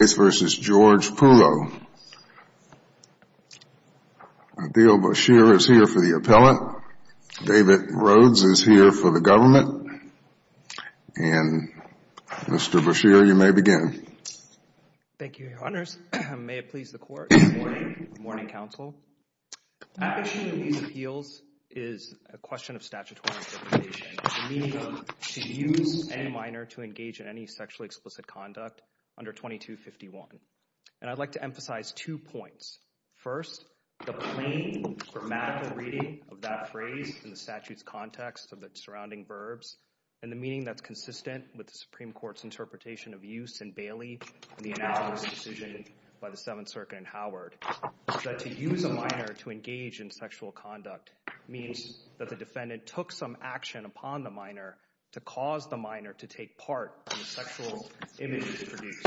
Theodore Beshear is here for the appellant. David Rhodes is here for the government. And, Mr. Beshear, you may begin. Thank you, Your Honors. May it please the Court. Good morning. Good morning, Counsel. Application of these appeals is a question of statutory interpretation. The meaning of, to use any minor to engage in any sexually explicit conduct under 2251. And I'd like to emphasize two points. First, the plain grammatical reading of that phrase in the statute's context of the surrounding verbs, and the meaning that's consistent with the Supreme Court's interpretation of use in Bailey and the analogous decision by the Seventh Circuit in Howard, is that to use a minor to engage in sexual conduct means that the defendant took some action upon the minor to cause the minor to take part in the sexual images produced.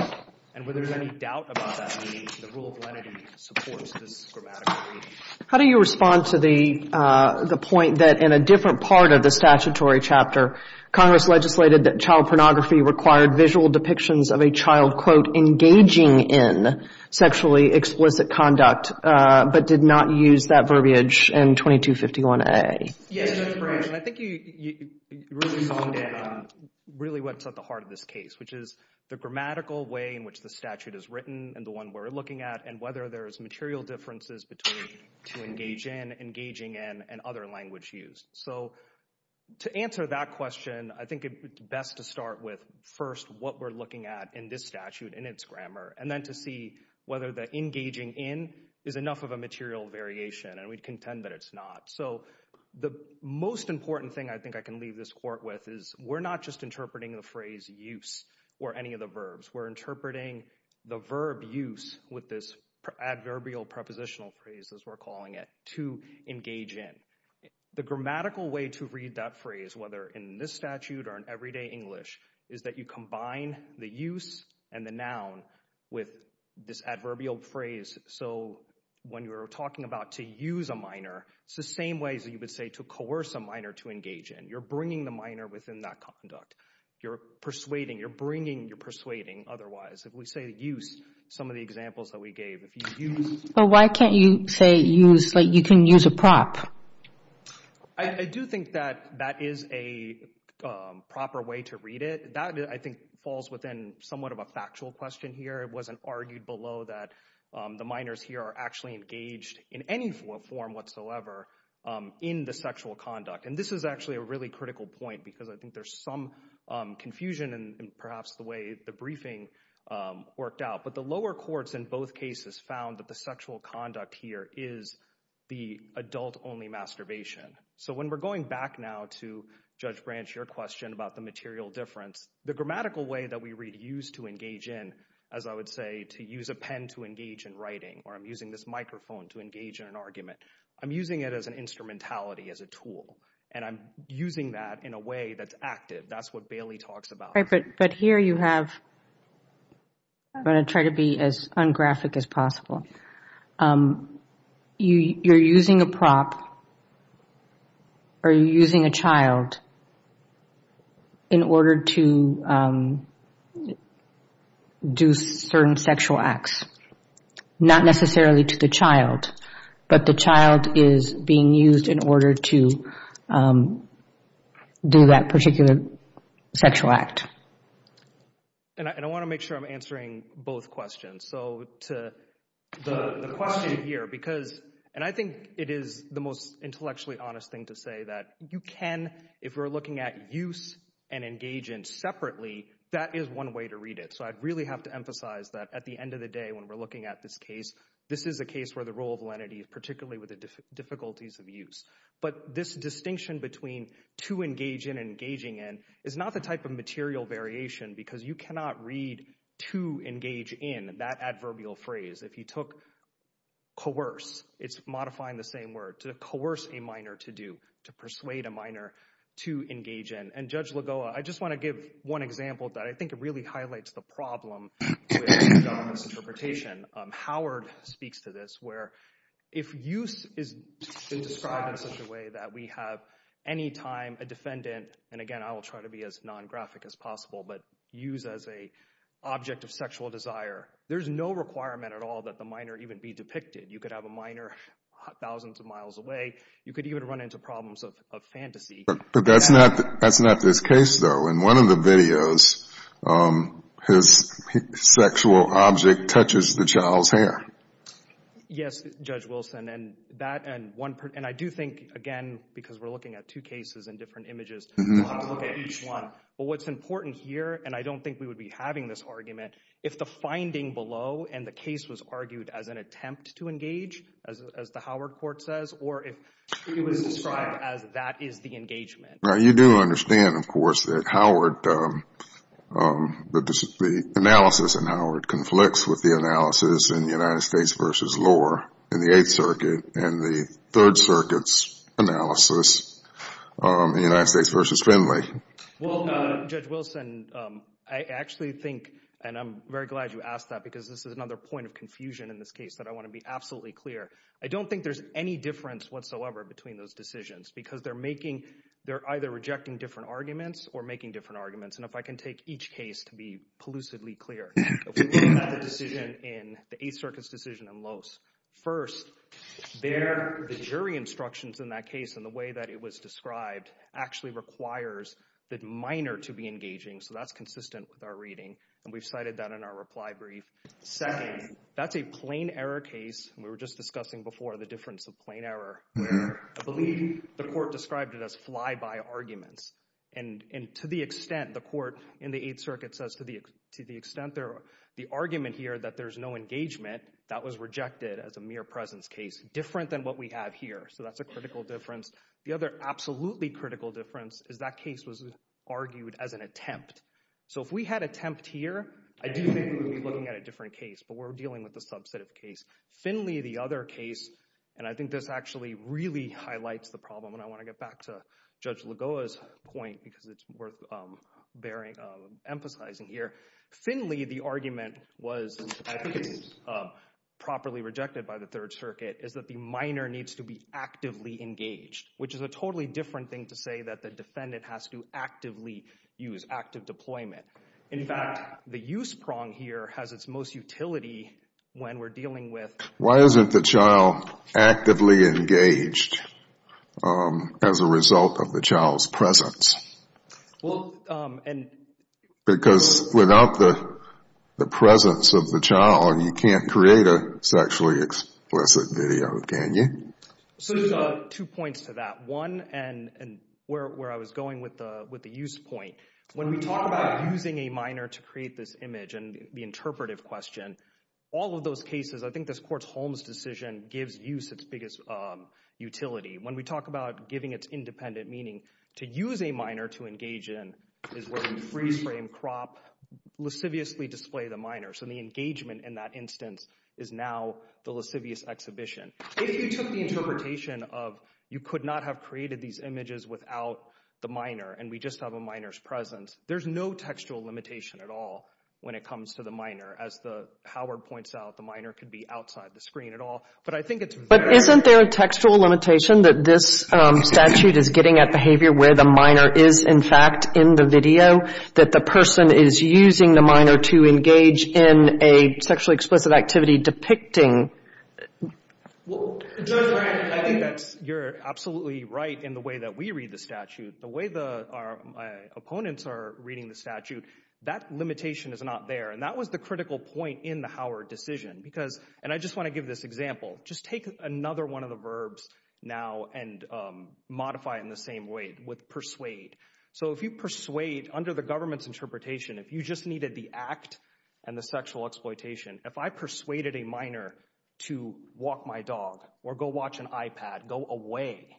And whether there's any doubt about that means the rule of lenity supports this grammatical reading. How do you respond to the point that, in a different part of the statutory chapter, Congress legislated that child pornography required visual depictions of a child, quote, engaging in sexually explicit conduct, but did not use that verbiage in 2251A? Yes, Your Honor. I think you really pointed out really what's at the heart of this case, which is the grammatical way in which the statute is written and the one we're looking at, and whether there's material differences between to engage in, engaging in, and other language used. So to answer that question, I think it's best to start with, first, what we're looking at in this statute in its grammar, and then to see whether the engaging in is enough of a material variation, and we'd contend that it's not. So the most important thing I think I can leave this court with is we're not just interpreting the phrase use or any of the verbs. We're interpreting the verb use with this adverbial prepositional phrase, as we're calling it, to engage in. The grammatical way to read that phrase, whether in this statute or in everyday English, is that you combine the use and the noun with this adverbial phrase. So when you're talking about to use a minor, it's the same way as you would say to coerce a minor to engage in. You're bringing the minor within that conduct. You're persuading. You're bringing. You're persuading. Otherwise, if we say use, some of the examples that we gave, if you use... But why can't you say use, like you can use a prop? I do think that that is a proper way to read it. That, I think, falls within somewhat of a factual question here. It wasn't argued below that the minors here are actually engaged in any form whatsoever in the sexual conduct. And this is actually a really critical point because I think there's some confusion in perhaps the way the briefing worked out. But the lower courts in both cases found that the sexual conduct here is the adult-only masturbation. So when we're going back now to Judge Branch, your question about the material difference, the grammatical way that we use to engage in, as I would say, to use a pen to engage in writing or I'm using this microphone to engage in an argument, I'm using it as an instrumentality, as a tool. And I'm using that in a way that's active. That's what Bailey talks about. But here you have... I'm going to try to be as ungraphic as possible. You're using a prop or you're using a child in order to do certain sexual acts. Not necessarily to the child, but the child is being used in order to do that particular sexual act. And I want to make sure I'm answering both questions. So the question here, because... And I think it is the most intellectually honest thing to say that you can, if we're looking at use and engage in separately, that is one way to read it. So I'd really have to emphasize that at the end of the day when we're looking at this case, this is a case where the role of validity, particularly with the difficulties of use. But this distinction between to engage in and engaging in is not the type of material variation because you cannot read to engage in that adverbial phrase. If you took coerce, it's modifying the same word. To coerce a minor to do, to persuade a minor to engage in. And Judge Lagoa, I just want to give one example that I think really highlights the problem with government's interpretation. Howard speaks to this where if use is described in such a way that we have any time a defendant, and again I will try to be as non-graphic as possible, but use as a object of sexual desire. There's no requirement at all that the minor even be depicted. You could have a minor thousands of miles away. You could even run into problems of fantasy. But that's not this case though. In one of the videos, his sexual object touches the child's hair. Yes, Judge Wilson. And I do think, again, because we're looking at two cases and different images, we want to look at each one. But what's important here, and I don't think we would be having this argument, if the finding below and the case was argued as an attempt to engage, as the Howard court says, or if it was described as that is the engagement. Now you do understand of course that Howard, the analysis in Howard conflicts with the analysis in the United States versus Lohr in the Eighth Circuit and the Third Circuit's analysis in the United States versus Finley. Well, Judge Wilson, I actually think, and I'm very glad you asked that because this is another point of confusion in this case that I want to be absolutely clear. I don't think there's any difference whatsoever between those decisions because they're either rejecting different arguments or making different arguments. And if I can take each case to be elusively clear, the Eighth Circuit's decision and Lohr's. First, their jury instructions in that case and the way that it was described actually requires the minor to be engaging. So that's consistent with our reading. And we've cited that in our reply brief. Second, that's a plain error case. We were just discussing before the difference of plain error. I believe the court described it as fly-by arguments. And to the extent the court in the Eighth Circuit says to the extent the argument here that there's no engagement, that was rejected as a mere presence case, different than what we have here. So that's a critical difference. The other absolutely critical difference is that case was a subset of case. Finley, the other case, and I think this actually really highlights the problem. And I want to get back to Judge Lagoa's point because it's worth emphasizing here. Finley, the argument was properly rejected by the Third Circuit is that the minor needs to be actively engaged, which is a totally different thing to say that the defendant has to actively use, active deployment. In fact, the use prong here has its most utility when we're dealing with... Why isn't the child actively engaged as a result of the child's presence? Because without the presence of the child, you can't create a sexually explicit video, can you? So there's two points to that. One, and where I was going with the use point, when we talk about using a minor to create this image and the interpretive question, all of those cases, I think this Court's Holmes decision gives use its biggest utility. When we talk about giving its independent meaning, to use a minor to engage in is where you freeze-frame, crop, lasciviously display the minor. So the engagement in that instance is now the lascivious exhibition. If you took the interpretation of you could not have created these images without the minor and we just have a minor's presence, there's no textual limitation at all when it comes to the minor. As Howard points out, the minor could be outside the screen at all. But isn't there a textual limitation that this statute is getting at behavior where the minor is in fact in the video, that the person is using the minor to engage in a sexually explicit activity depicting... I think you're absolutely right in the way that we read the statute. The way our opponents are reading the statute, that limitation is not there. And that was the critical point in the Howard decision. And I just want to give this example. Just take another one of the verbs now and modify it in the same way with persuade. So if you persuade under the government's interpretation, if you just needed the act and the sexual exploitation, if I persuaded a minor to walk my dog or go watch an iPad, go away,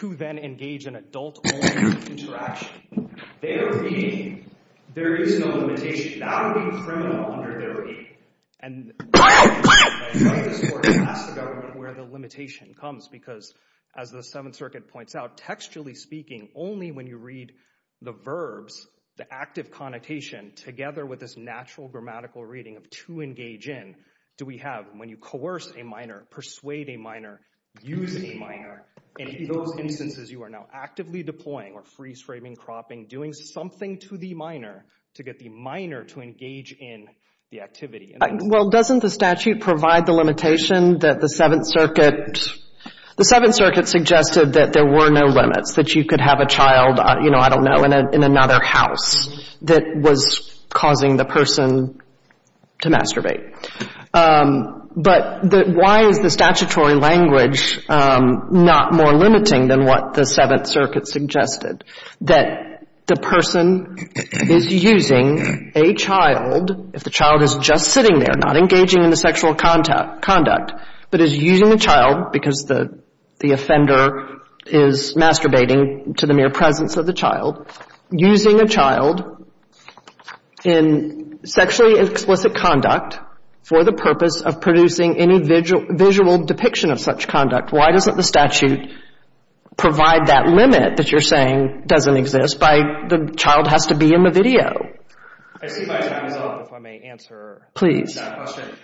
to then engage in adult-only interaction, there is no limitation. That would be criminal under their reading. Ask the government where the limitation comes. Because as the Seventh Circuit points out, textually speaking, only when you read the verbs, the active connotation, together with this natural grammatical reading of to engage in, do we have, when you coerce a minor, persuade a minor, use a minor, and in those instances you are now actively deploying or freeze-framing, cropping, doing something to the minor to get the minor to engage in the activity. Well, doesn't the statute provide the limitation that the Seventh Circuit suggested that there were no limits, that you could have a child, you know, I don't know, in another house that was causing the person to masturbate? But why is the statutory language not more limiting than what the Seventh Circuit suggested, that the person is using a child, if the child is just sitting there, not engaging in the sexual conduct, but is using a child, because the offender is masturbating to the mere presence of the child, using a child in sexually explicit conduct for the purpose of producing any visual depiction of such conduct? Why doesn't the statute provide that limit that you're saying doesn't exist by the child has to be in the video? I see my time is up, if I may answer that question.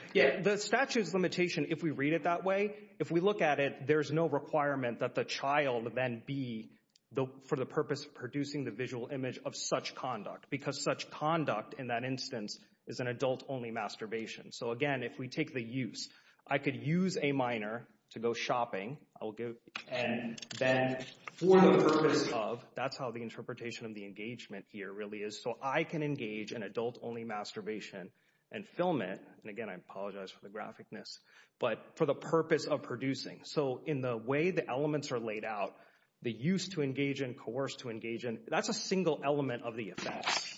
The statute's limitation, if we read it that way, if we look at it, there's no requirement that the child then be for the purpose of producing the visual image of such conduct, because such conduct, in that instance, is an adult-only masturbation. So again, if we take the use, I could use a minor to go shopping, and then for the purpose of, that's how the interpretation of the engagement here really is, so I can engage in adult-only masturbation and film it, and again, I apologize for the graphicness, but for the purpose of producing. So in the way the elements are laid out, the use to engage in, coerce to engage in, that's a single element of the effects.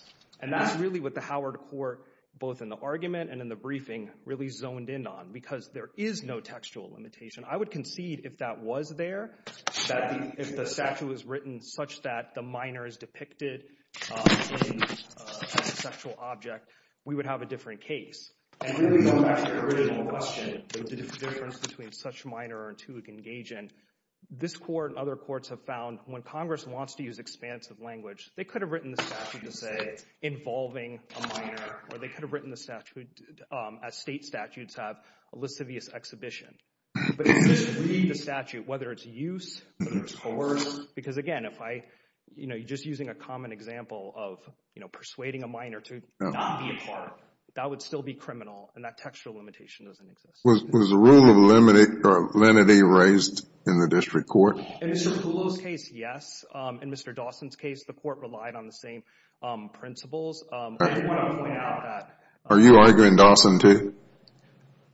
And that's really what the Howard Court, both in the argument and in the briefing, really zoned in on, because there is no textual limitation. I would concede if that was there, that if the statute was written such that the minor is depicted as a sexual object, we would have a different case. And really going back to the original question, the difference between such minor and to engage in, this court and other courts have found, when Congress wants to use expansive language, they could have written the statute to say involving a minor, or they could have written the statute as state statutes have a lascivious exhibition. But if you just read the statute, whether it's use, whether it's coercion, because again, if I, you know, you're just using a common example of, you know, Was the rule of lenity raised in the district court? In Mr. Poole's case, yes. In Mr. Dawson's case, the court relied on the same principles. Are you arguing Dawson too?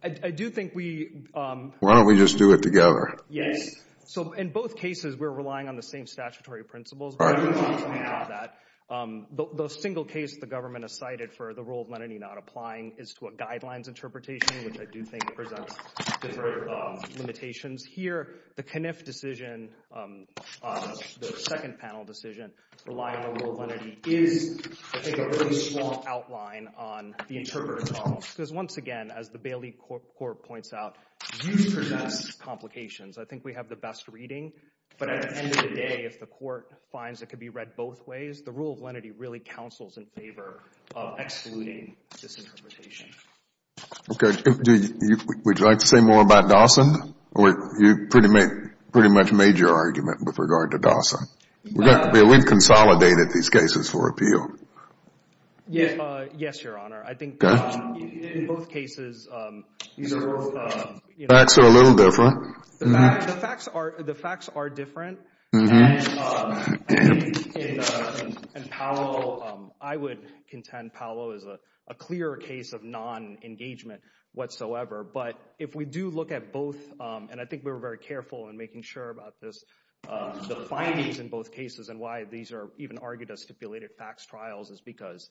I do think we... Why don't we just do it together? Yes. So in both cases, we're relying on the same statutory principles. The single case the government has cited for the rule of lenity not applying is to a guidelines interpretation, which I do think presents different limitations. Here, the Kniff decision, the second panel decision, relying on rule of lenity is, I think, a very strong outline on the interpreter problem. Because once again, as the Bailey Court points out, use presents complications. I think we have the best reading, but at the end of the day, if the court finds it could be read both ways, the rule of lenity really counsels in favor of excluding this interpretation. Would you like to say more about Dawson? You pretty much made your argument with regard to Dawson. We've consolidated these cases for appeal. Yes, Your Honor. I think in both cases, facts are a little different. The facts are different. And I think in Paolo, I would contend Paolo is a clear case of non-engagement whatsoever. But if we do look at both, and I think we were very careful in making sure about this, the findings in both cases and why these are even argued as stipulated facts trials is because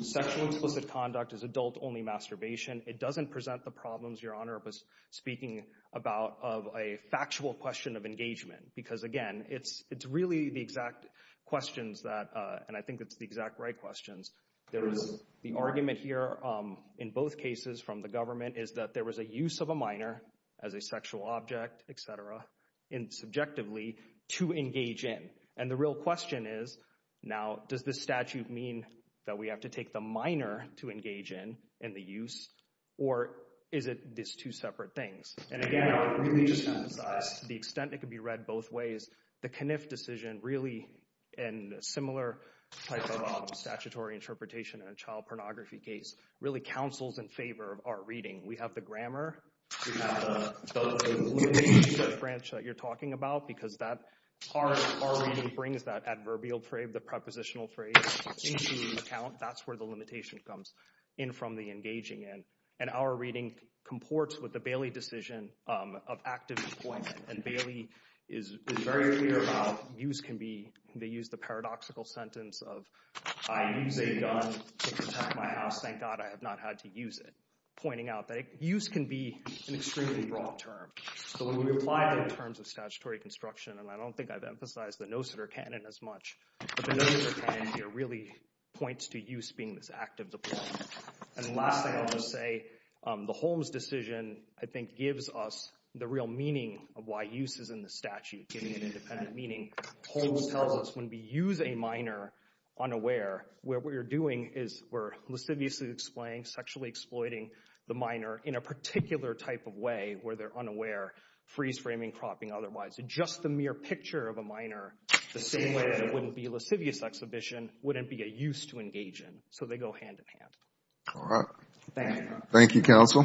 sexual explicit conduct is adult-only masturbation. It doesn't present the problems Your Honor was speaking about of a factual question of engagement. Because again, it's really the exact questions that, and I think it's the exact right questions. The argument here in both cases from the government is that there was a use of a minor as a sexual object, etc., subjectively, to engage in. And the real question is, now, does this statute mean that we have to take the minor to engage in, in the use, or is it these two separate things? And again, I would really just emphasize to the extent it could be read both ways, the Kniff decision really, in a similar type of statutory interpretation in a child pornography case, really counsels in favor of our reading. And that's what we're really talking about, because our reading brings that adverbial phrase, the prepositional phrase, into account. That's where the limitation comes in from the engaging end. And our reading comports with the Bailey decision of active employment. And Bailey is very clear about use can be, they use the paradoxical sentence of, I use a gun to protect my house, thank God I have not had to use it. Pointing out that use can be an extremely broad term. So when we apply it in terms of statutory construction, and I don't think I've emphasized the no-sitter canon as much, but the no-sitter canon here really points to use being this active deployment. And the last thing I want to say, the Holmes decision, I think, gives us the real meaning of why use is in the statute, giving it independent meaning. Holmes tells us when we use a minor unaware, what we're doing is we're lasciviously explaining, sexually exploiting the minor in a particular type of way where they're unaware, freeze-framing, cropping otherwise. Just the mere picture of a minor, the same way that it wouldn't be a lascivious exhibition, wouldn't be a use to engage in. So they go hand-in-hand. Thank you, counsel.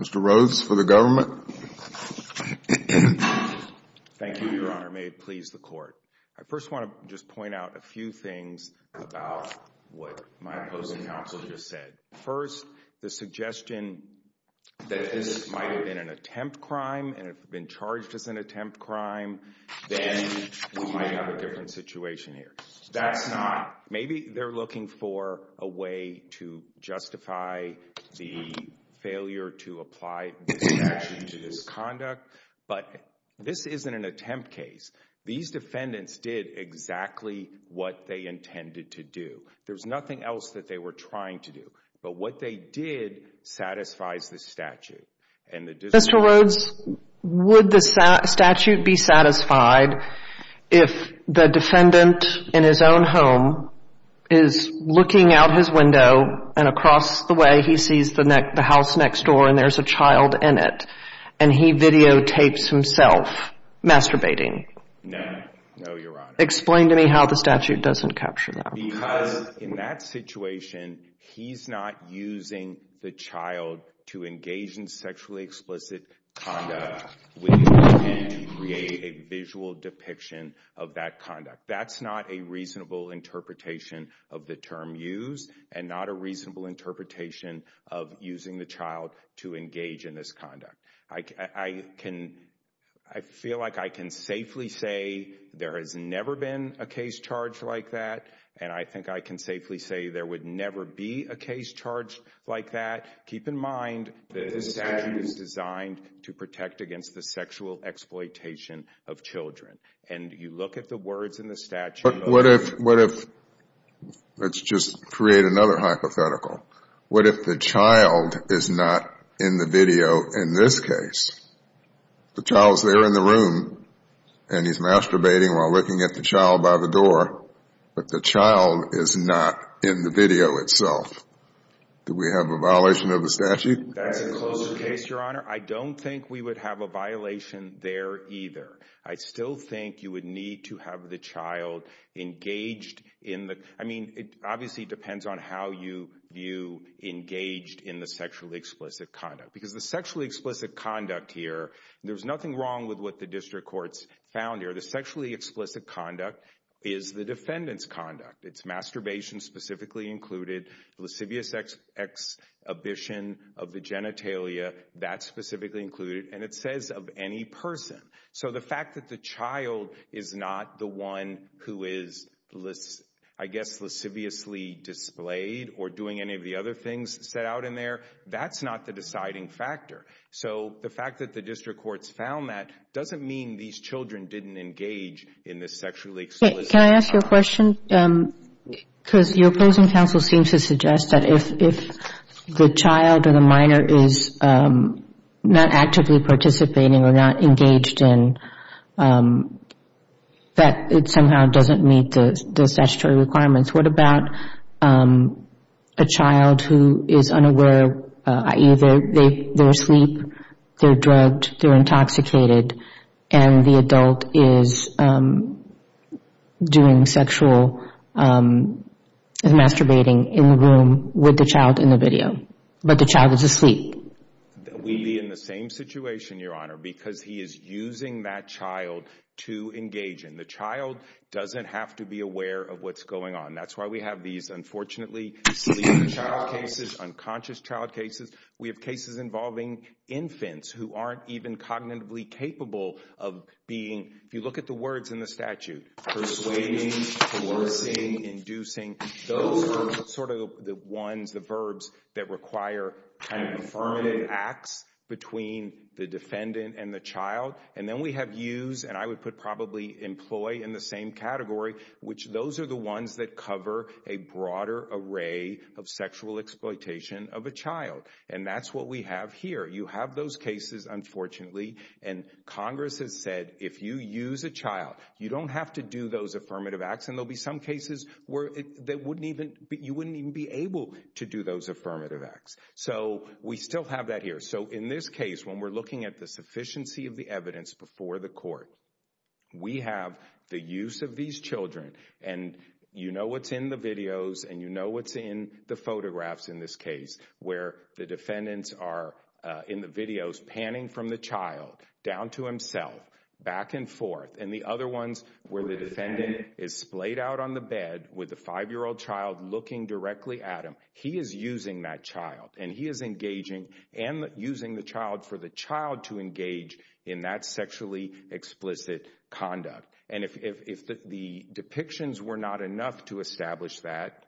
Mr. Rhodes for the government. Thank you, Your Honor. May it please the court. I first want to just point out a few things about what my opposing counsel just said. First, the suggestion that this might have been an attempt crime, and it's been charged as an attempt crime, then we might have a different situation here. That's not. Maybe they're looking for a way to justify the failure to apply this action to this conduct, but this isn't an attempt case. These defendants did exactly what they intended to do. There was nothing else that they were trying to do, but what they did satisfies the statute. Mr. Rhodes, would the statute be satisfied if the defendant in his own home is looking out his window and across the way he sees the house next door and there's a child in it and he videotapes himself masturbating? No. No, Your Honor. Explain to me how the statute doesn't capture that. Because in that situation, he's not using the child to engage in sexually explicit conduct with intent to create a visual depiction of that conduct. That's not a reasonable interpretation of the term used and not a reasonable interpretation of using the child to engage in this conduct. I feel like I can safely say there has never been a case charged like that, and I think I can safely say there would never be a case charged like that. Keep in mind the statute is designed to protect against the sexual exploitation of children. And you look at the words in the statute. What if, let's just create another hypothetical. What if the child is not in the video in this case? The child's there in the room and he's masturbating while looking at the child by the door, but the child is not in the video itself? Do we have a violation of the statute? That's a closed case, Your Honor. I don't think we would have a violation there either. I still think you would need to have the child engaged in the, I mean, it obviously depends on how you view engaged in the sexually explicit conduct. Because the sexually explicit conduct here, there's nothing wrong with what the district courts found here. The sexually explicit conduct is the defendant's conduct. It's masturbation specifically included, lascivious exhibition of the genitalia, that's specifically included, and it says of any person. So the fact that the child is not the one who is, I guess, lasciviously displayed or doing any of the other things set out in there, that's not the deciding factor. So the fact that the district courts found that doesn't mean these children didn't engage in this sexually explicit conduct. Can I ask you a question? Because your opposing counsel seems to suggest that if the child or the minor is not actively participating or not engaged in, that it somehow doesn't meet the statutory requirements. What about a child who is unaware, i.e., they're asleep, they're drugged, they're intoxicated, and the adult is doing sexual masturbating in the room with the child in the video, but the child is asleep? We'd be in the same situation, Your Honor, because he is using that child to engage in. The child doesn't have to be aware of what's going on. That's why we have these, unfortunately, sleeping child cases, unconscious child cases. We have cases involving infants who aren't even cognitively capable of being, if you look at the words in the statute, persuading, coercing, inducing, those are sort of the ones, the verbs, that require kind of affirmative acts between the defendant and the child. And then we have use, and I would put probably employ in the same category, which those are the ones that cover a broader array of sexual exploitation of a child. And that's what we have here. You have those cases, unfortunately, and Congress has said, if you use a child, you don't have to do those affirmative acts, and there'll be some cases where you wouldn't even be able to do those affirmative acts. So we still have that here. So in this case, when we're looking at the sufficiency of the evidence before the court, we have the use of these children, and you know what's in the videos, and you know what's in the photographs in this case, where the defendants are, in the videos, panning from the child down to himself, back and forth, and the other ones where the defendant is splayed out on the bed with the five-year-old child looking directly at him, he is using that child, and he is engaging and using the child for the child to engage in that sexually explicit conduct. And if the depictions were not enough to establish that,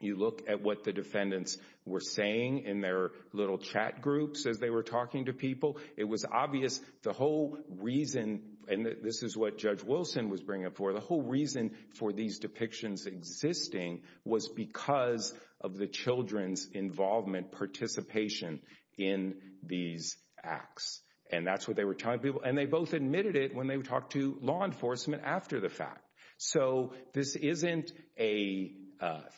you look at what the defendants were saying in their little chat groups as they were talking to people. It was obvious the whole reason, and this is what Judge Wilson was bringing up for, the whole reason for these depictions existing was because of the children's involvement, participation in these acts. And that's what they were telling people, and they both admitted it when they talked to law enforcement after the fact. So this isn't a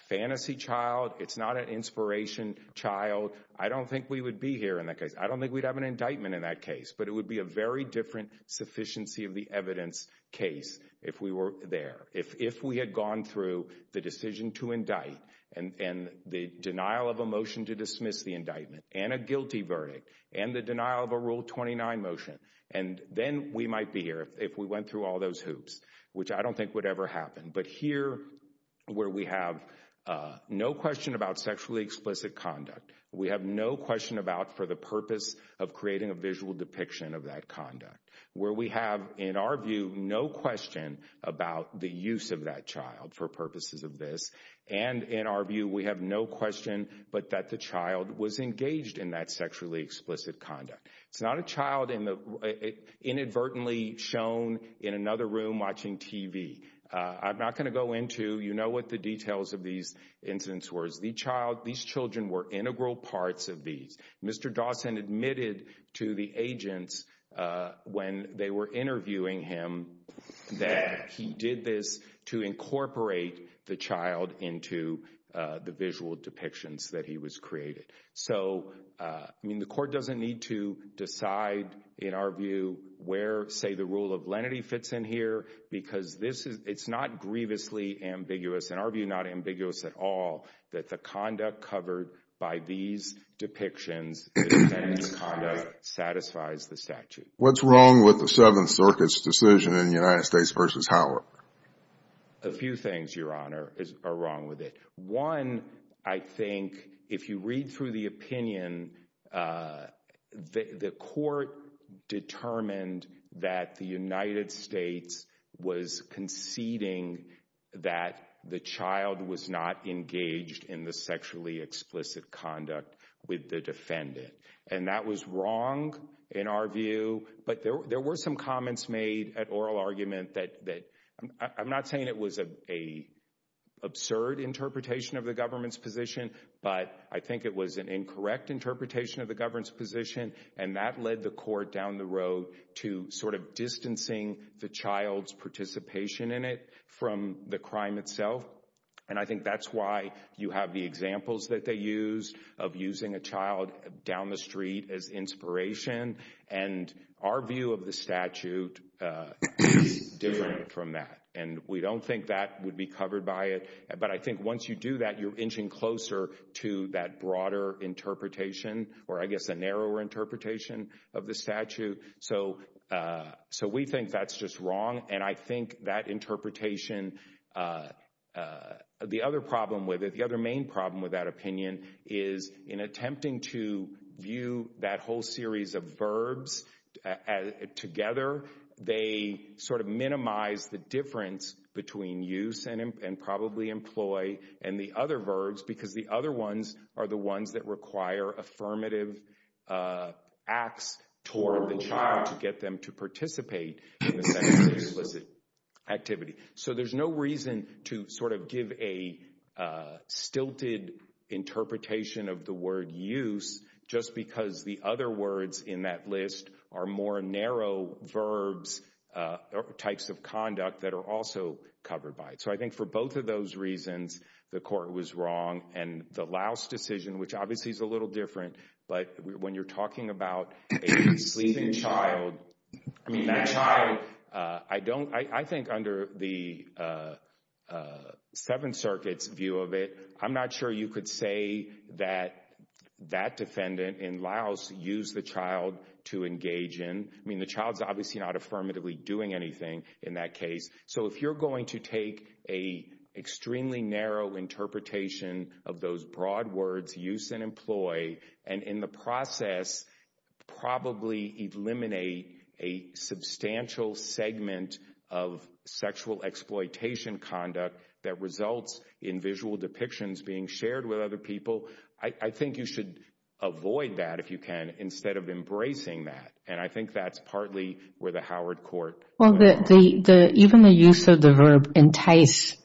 fantasy child. It's not an inspiration child. I don't think we would be here in that case. I don't think we'd have an indictment in that case, but it would be a very different sufficiency of the evidence case if we were there. If we had gone through the decision to indict, and the denial of a motion to dismiss the indictment, and a guilty verdict, and the denial of a Rule 29 motion, and then we might be here if we went through all those hoops, which I don't think would ever happen. But here, where we have no question about sexually explicit conduct, we have no question about for the purpose of creating a visual depiction of that conduct, where we have, in our view, no question about the use of that child for purposes of this, and in our view, we have no question but that the child was engaged in that sexually explicit conduct. It's not a child inadvertently shown in another room watching TV. I'm not going to go into, you know what the details of these incidents were. These children were integral parts of these. Mr. Dawson admitted to the agents when they were interviewing him that he did this to incorporate the child into the visual depictions that he was created. So, I mean, the Court doesn't need to decide, in our view, where, say, the Rule of Lenity fits in here, because this is, it's not grievously ambiguous, in our view, not ambiguous at all, that the conduct covered by these depictions, the defendant's conduct, satisfies the statute. What's wrong with the Seventh Circuit's decision in United States v. Howard? A few things, Your Honor, are wrong with it. One, I think, if you read through the opinion, the Court determined that the United States was conceding that the child was not engaged in the sexually explicit conduct with the defendant. And that was wrong, in our view, but there were some comments made at oral argument that, I'm not saying it was an absurd interpretation of the government's position, but I think it was an incorrect interpretation of the government's position, and that led the Court down the road to sort of distancing the child's participation in it from the crime itself, and I think that's why you have the examples that they use of using a child down the street as inspiration, and our view of the statute is different from that, and we don't think that would be covered by it, but I think once you do that, you're inching closer to that broader interpretation, or I guess a narrower interpretation of the statute, so we think that's just wrong, and I think that interpretation, the other problem with it, the other main problem with that opinion is, in attempting to view that whole series of verbs together, they sort of minimize the difference between use and probably employ, and the other verbs, because the other ones are the ones that require affirmative acts toward the child to get them to participate in the sexual activity, so there's no reason to sort of give a stilted interpretation of the word use, just because the other words in that list are more narrow verbs or types of conduct that are also covered by it, so I think for both of those reasons, the court was wrong, and the Laos decision, which obviously is a little different, but when you're talking about a sleeping child, I mean, that child, I think under the Seventh Circuit's view of it, I'm not sure you could say that that defendant in Laos used the child to engage in, I mean, the child's obviously not affirmatively doing anything in that case, so if you're going to take an extremely narrow interpretation of those broad words, use and employ, and in the process, probably eliminate a substantial segment of sexual exploitation conduct that results in visual depictions being shared with other people, I think you should avoid that, if you can, instead of embracing that, and I think that's partly where the Howard court went wrong. Well, even the use of the verb entice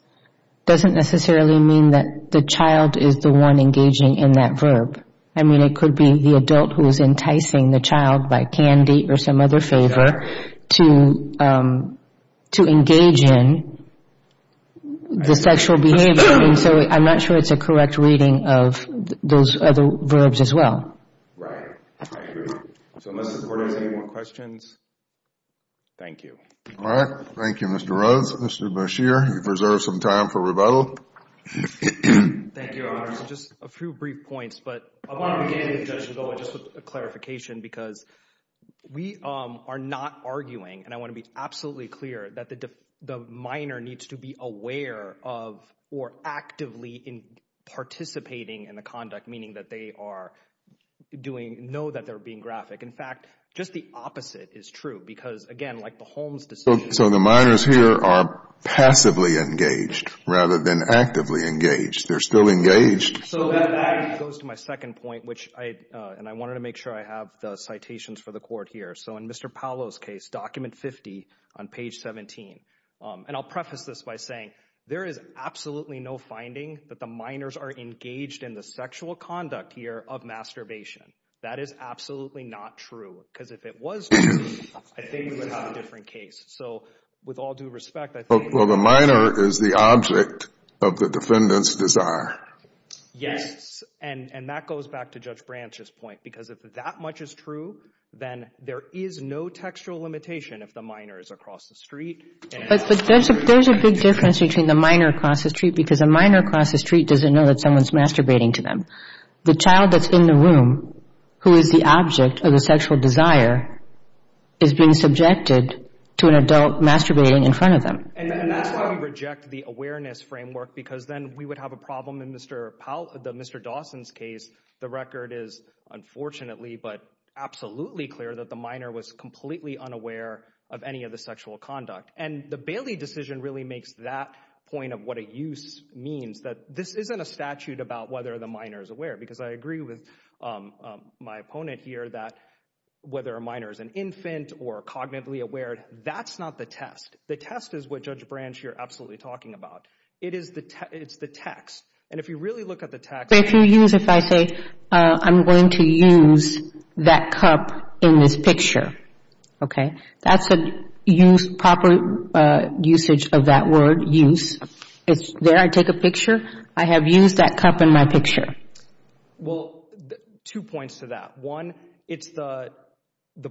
doesn't necessarily mean that the child is the one engaging in that verb. I mean, it could be the adult who is enticing the child by candy or some other favor to engage in the sexual behavior, and so I'm not sure it's a correct reading of those other verbs as well. Right. I agree. So unless the court has any more questions, thank you. All right. Thank you, Mr. Rhodes. Mr. Bashir, you've reserved some time for rebuttal. Thank you, Your Honor. Just a few brief points, but I want to begin, Judge Zola, just with a clarification, because we are not arguing, and I want to be absolutely clear, that the minor needs to be aware of or actively participating in the conduct, meaning that they are doing, know that they're being graphic. In fact, just the opposite is true, because, again, like the Holmes decision. So the minors here are passively engaged rather than actively engaged. They're still engaged. So that actually goes to my second point, which I, and I wanted to make sure I have the citations for the court here. So in Mr. Paolo's case, document 50 on page 17, and I'll preface this by saying there is absolutely no finding that the minors are engaged in the sexual conduct here of masturbation. That is absolutely not true, because if it was true, I think we would have a different case. So with all due respect, I think. Well, the minor is the object of the defendant's desire. Yes. And that goes back to Judge Branch's point, because if that much is true, then there is no textual limitation if the minor is across the street. But there's a big difference between the minor across the street, because a minor across the street doesn't know that someone's masturbating to them. The child that's in the room who is the object of the sexual desire is being subjected to an adult masturbating in front of them. And that's why we reject the awareness framework, because then we would have a problem in Mr. Dawson's case. The record is unfortunately, but absolutely clear that the minor was completely unaware of any of the sexual conduct. And the Bailey decision really makes that point of what a use means, that this isn't a statute about whether the minor is aware. Because I agree with my opponent here that whether a minor is an infant or cognitively aware, that's not the test. The test is what Judge Branch here is absolutely talking about. It is the text. And if you really look at the text If you use, if I say I'm going to use that cup in this picture, okay, that's a use, proper usage of that word, use. There I take a picture. I have used that cup in my picture. Well, two points to that. One, it's the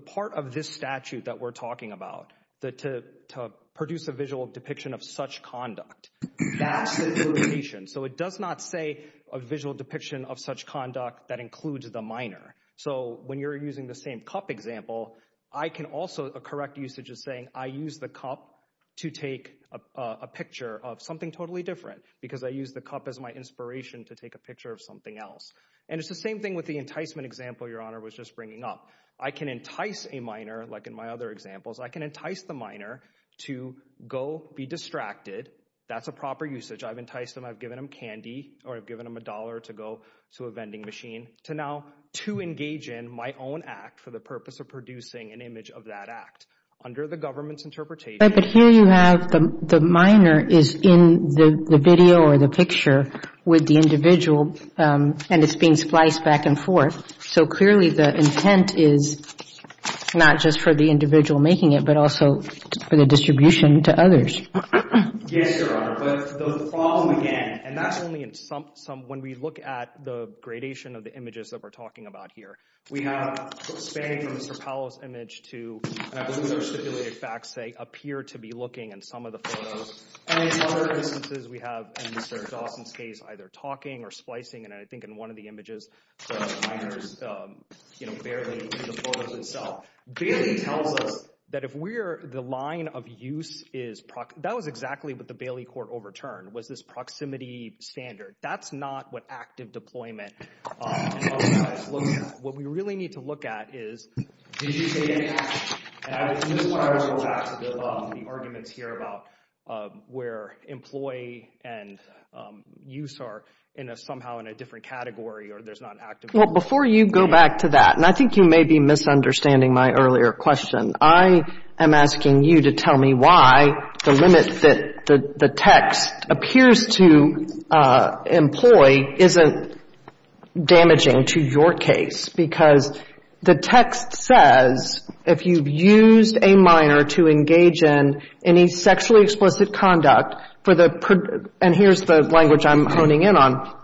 part of this statute that we're talking about, to produce a visual depiction of such conduct. That's the interpretation. So it does not say a visual depiction of such conduct that includes the minor. So when you're using the same cup example, I can also, a correct usage is saying I use the cup to take a picture of something totally different. Because I use the cup as my inspiration to take a picture of something else. And it's the same thing with the enticement example your honor was just bringing up. I can entice a minor, like in my other examples, I can entice the minor to go be distracted. That's a proper usage. I've enticed them, I've given them candy, or I've given them a dollar to go to a vending machine. To now, to engage in my own act for the purpose of producing an image of that act. Under the government's interpretation. But here you have the minor is in the video or the picture with the individual and it's being spliced back and forth. So clearly the intent is not just for the individual making it, but also for the distribution to others. Yes your honor, but the problem again, and that's only in some, when we look at the gradation of the images that we're talking about here. We have span from Mr. Paolo's image to, those are stipulated facts, they appear to be looking in some of the photos. And in other instances we have, in Mr. Dawson's case, either talking or splicing and I think in one of the images, the minor's barely in the photos themselves. Bailey tells us that if we're, the line of use is, that was exactly what the Bailey court overturned, was this proximity standard. That's not what active deployment looks like. What we really need to look at is did you say any action? And this is where I was going to go back to the arguments here about where employee and use are somehow in a different category or there's not active deployment. Well, before you go back to that, and I think you may be misunderstanding my earlier question, I am asking you to tell me why the limit that the text appears to employ isn't damaging to your case. Because the text says, if you've used a minor to engage in any sexually explicit conduct, and here's the language I'm honing in on,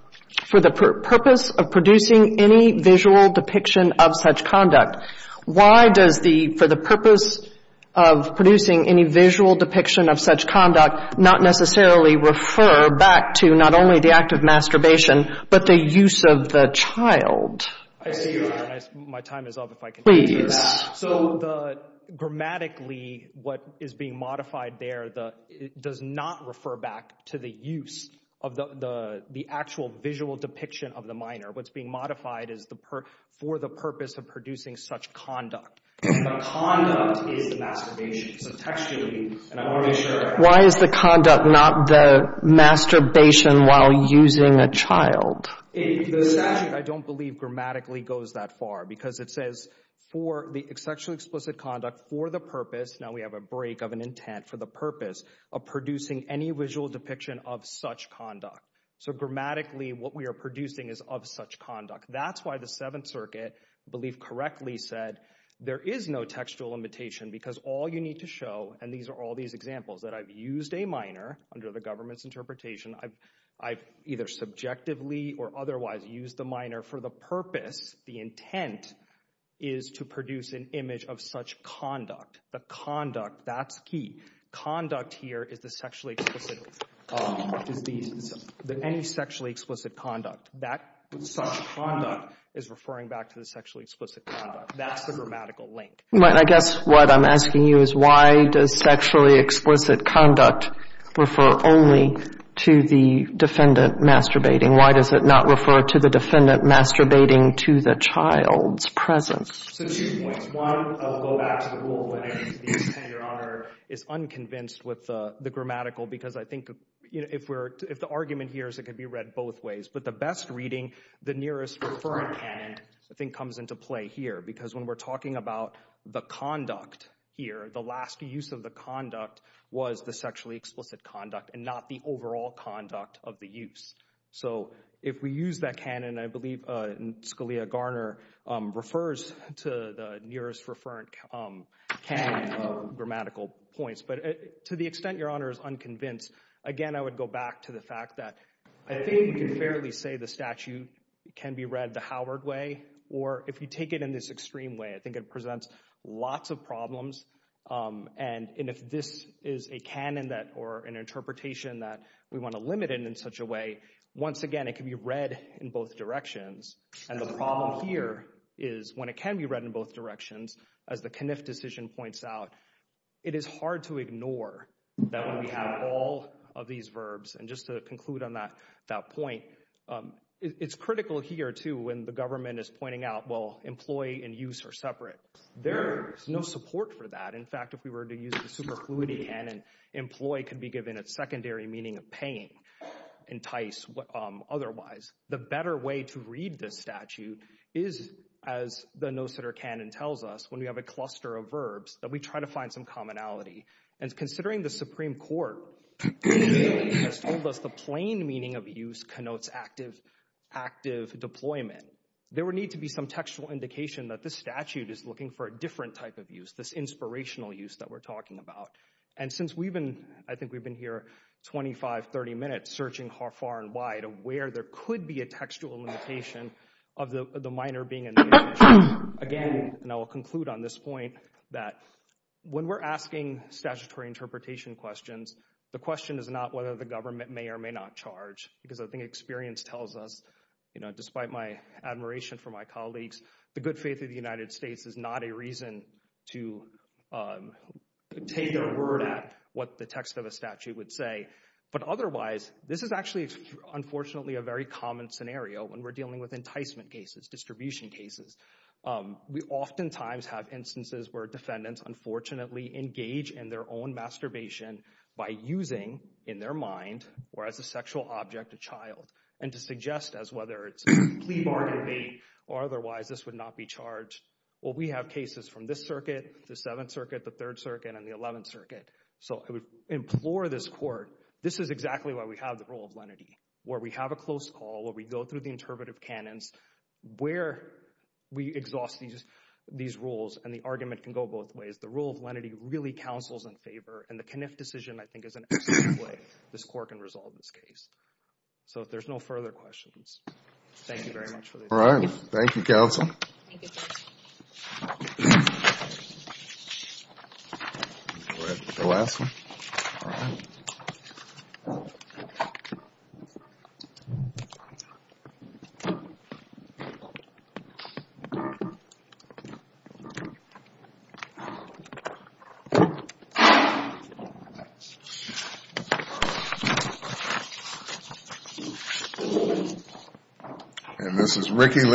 for the purpose of producing any visual depiction of such conduct, why does the, for the purpose of producing any visual depiction of such conduct not necessarily refer back to not only the act of masturbation, but the use of the child? I see you there and my time is up if I can answer that. Please. So the, grammatically, what is being modified there, does not refer back to the use of the actual visual depiction of the minor. What's being modified is for the purpose of producing such conduct. The conduct is the masturbation. So textually, and I want to make sure. Why is the conduct not the masturbation while using a child? I don't believe grammatically goes that far because it says for the sexually explicit conduct for the purpose, now we have a break of an intent for the purpose of producing any visual depiction of such conduct. So grammatically what we are producing is of such conduct. That's why the Seventh Circuit, I believe correctly said, there is no textual limitation because all you need to show, and these are all these examples that I've subjectively or otherwise used the minor for the purpose, the intent is to produce an image of such conduct. The conduct, that's key. Conduct here is the sexually explicit, any sexually explicit conduct. That such conduct is referring back to the sexually explicit conduct. That's the grammatical link. I guess what I'm asking you is why does sexually explicit conduct refer to the defendant masturbating? Why does it not refer to the defendant masturbating to the child's presence? So two points. One, I'll go back to the rule of limiting the intended honor. It's unconvinced with the grammatical because I think if we're, if the argument here is it could be read both ways. But the best reading, the nearest preferred canon, I think comes into play here because when we're talking about the conduct here, the last use of the conduct was the sexually explicit conduct and not the overall conduct of the use. So if we use that canon, I believe Scalia-Garner refers to the nearest referred canon of grammatical points. But to the extent your honor is unconvinced, again I would go back to the fact that I think we can fairly say the statute can be read the both directions. And the problem here is when it can be read in both directions, as the Kniff decision points out, it is hard to ignore that when we have all of these verbs, and just to conclude on that point, it's critical here too when the government is pointing out, well, employee and use are separate. In fact, if we were to use the superfluity canon, employee could be given a secondary meaning of paying, entice, otherwise. The better way to read this statute is, as the no-sitter canon tells us, when we have a cluster of verbs, that we try to find some commonality. And considering the Supreme Court has told us the plain meaning of use connotes active deployment, there would need to be some textual indication that this statute is looking for a different type of use, this inspirational use that we're talking about. And since we've been, I think we've been here 25, 30 minutes searching far and wide of where there could be a textual limitation of the minor being a negative use. Again, and I will conclude on this point, that when we're asking statutory interpretation questions, the question is not whether the government may or may not charge. Because I think experience tells us, you know, despite my admiration for my colleagues, the good faith of the United States is not a reason to take a word at what the text of a statute would say. But otherwise, this is actually, unfortunately, a very common scenario when we're dealing with enticement cases, distribution cases. We oftentimes have instances where defendants, unfortunately, engage in their own masturbation by using, in their mind, or as a sexual object, a child. And to suggest as whether it's a plea bargain bait, or otherwise, this would not be charged. Well, we have cases from this circuit, the 7th Circuit, the 3rd Circuit, and the 11th Circuit. So I would implore this Court, this is exactly why we have the rule of lenity, where we have a close call, where we go through the interpretive canons, where we exhaust these rules. And the argument can go both ways. The rule of lenity really counsels in favor. And the Kniff decision, I think, is an excellent way this Court can resolve this case. So if there's no further questions, thank you very much. All right. Thank you, Counsel. The last one. Thank you.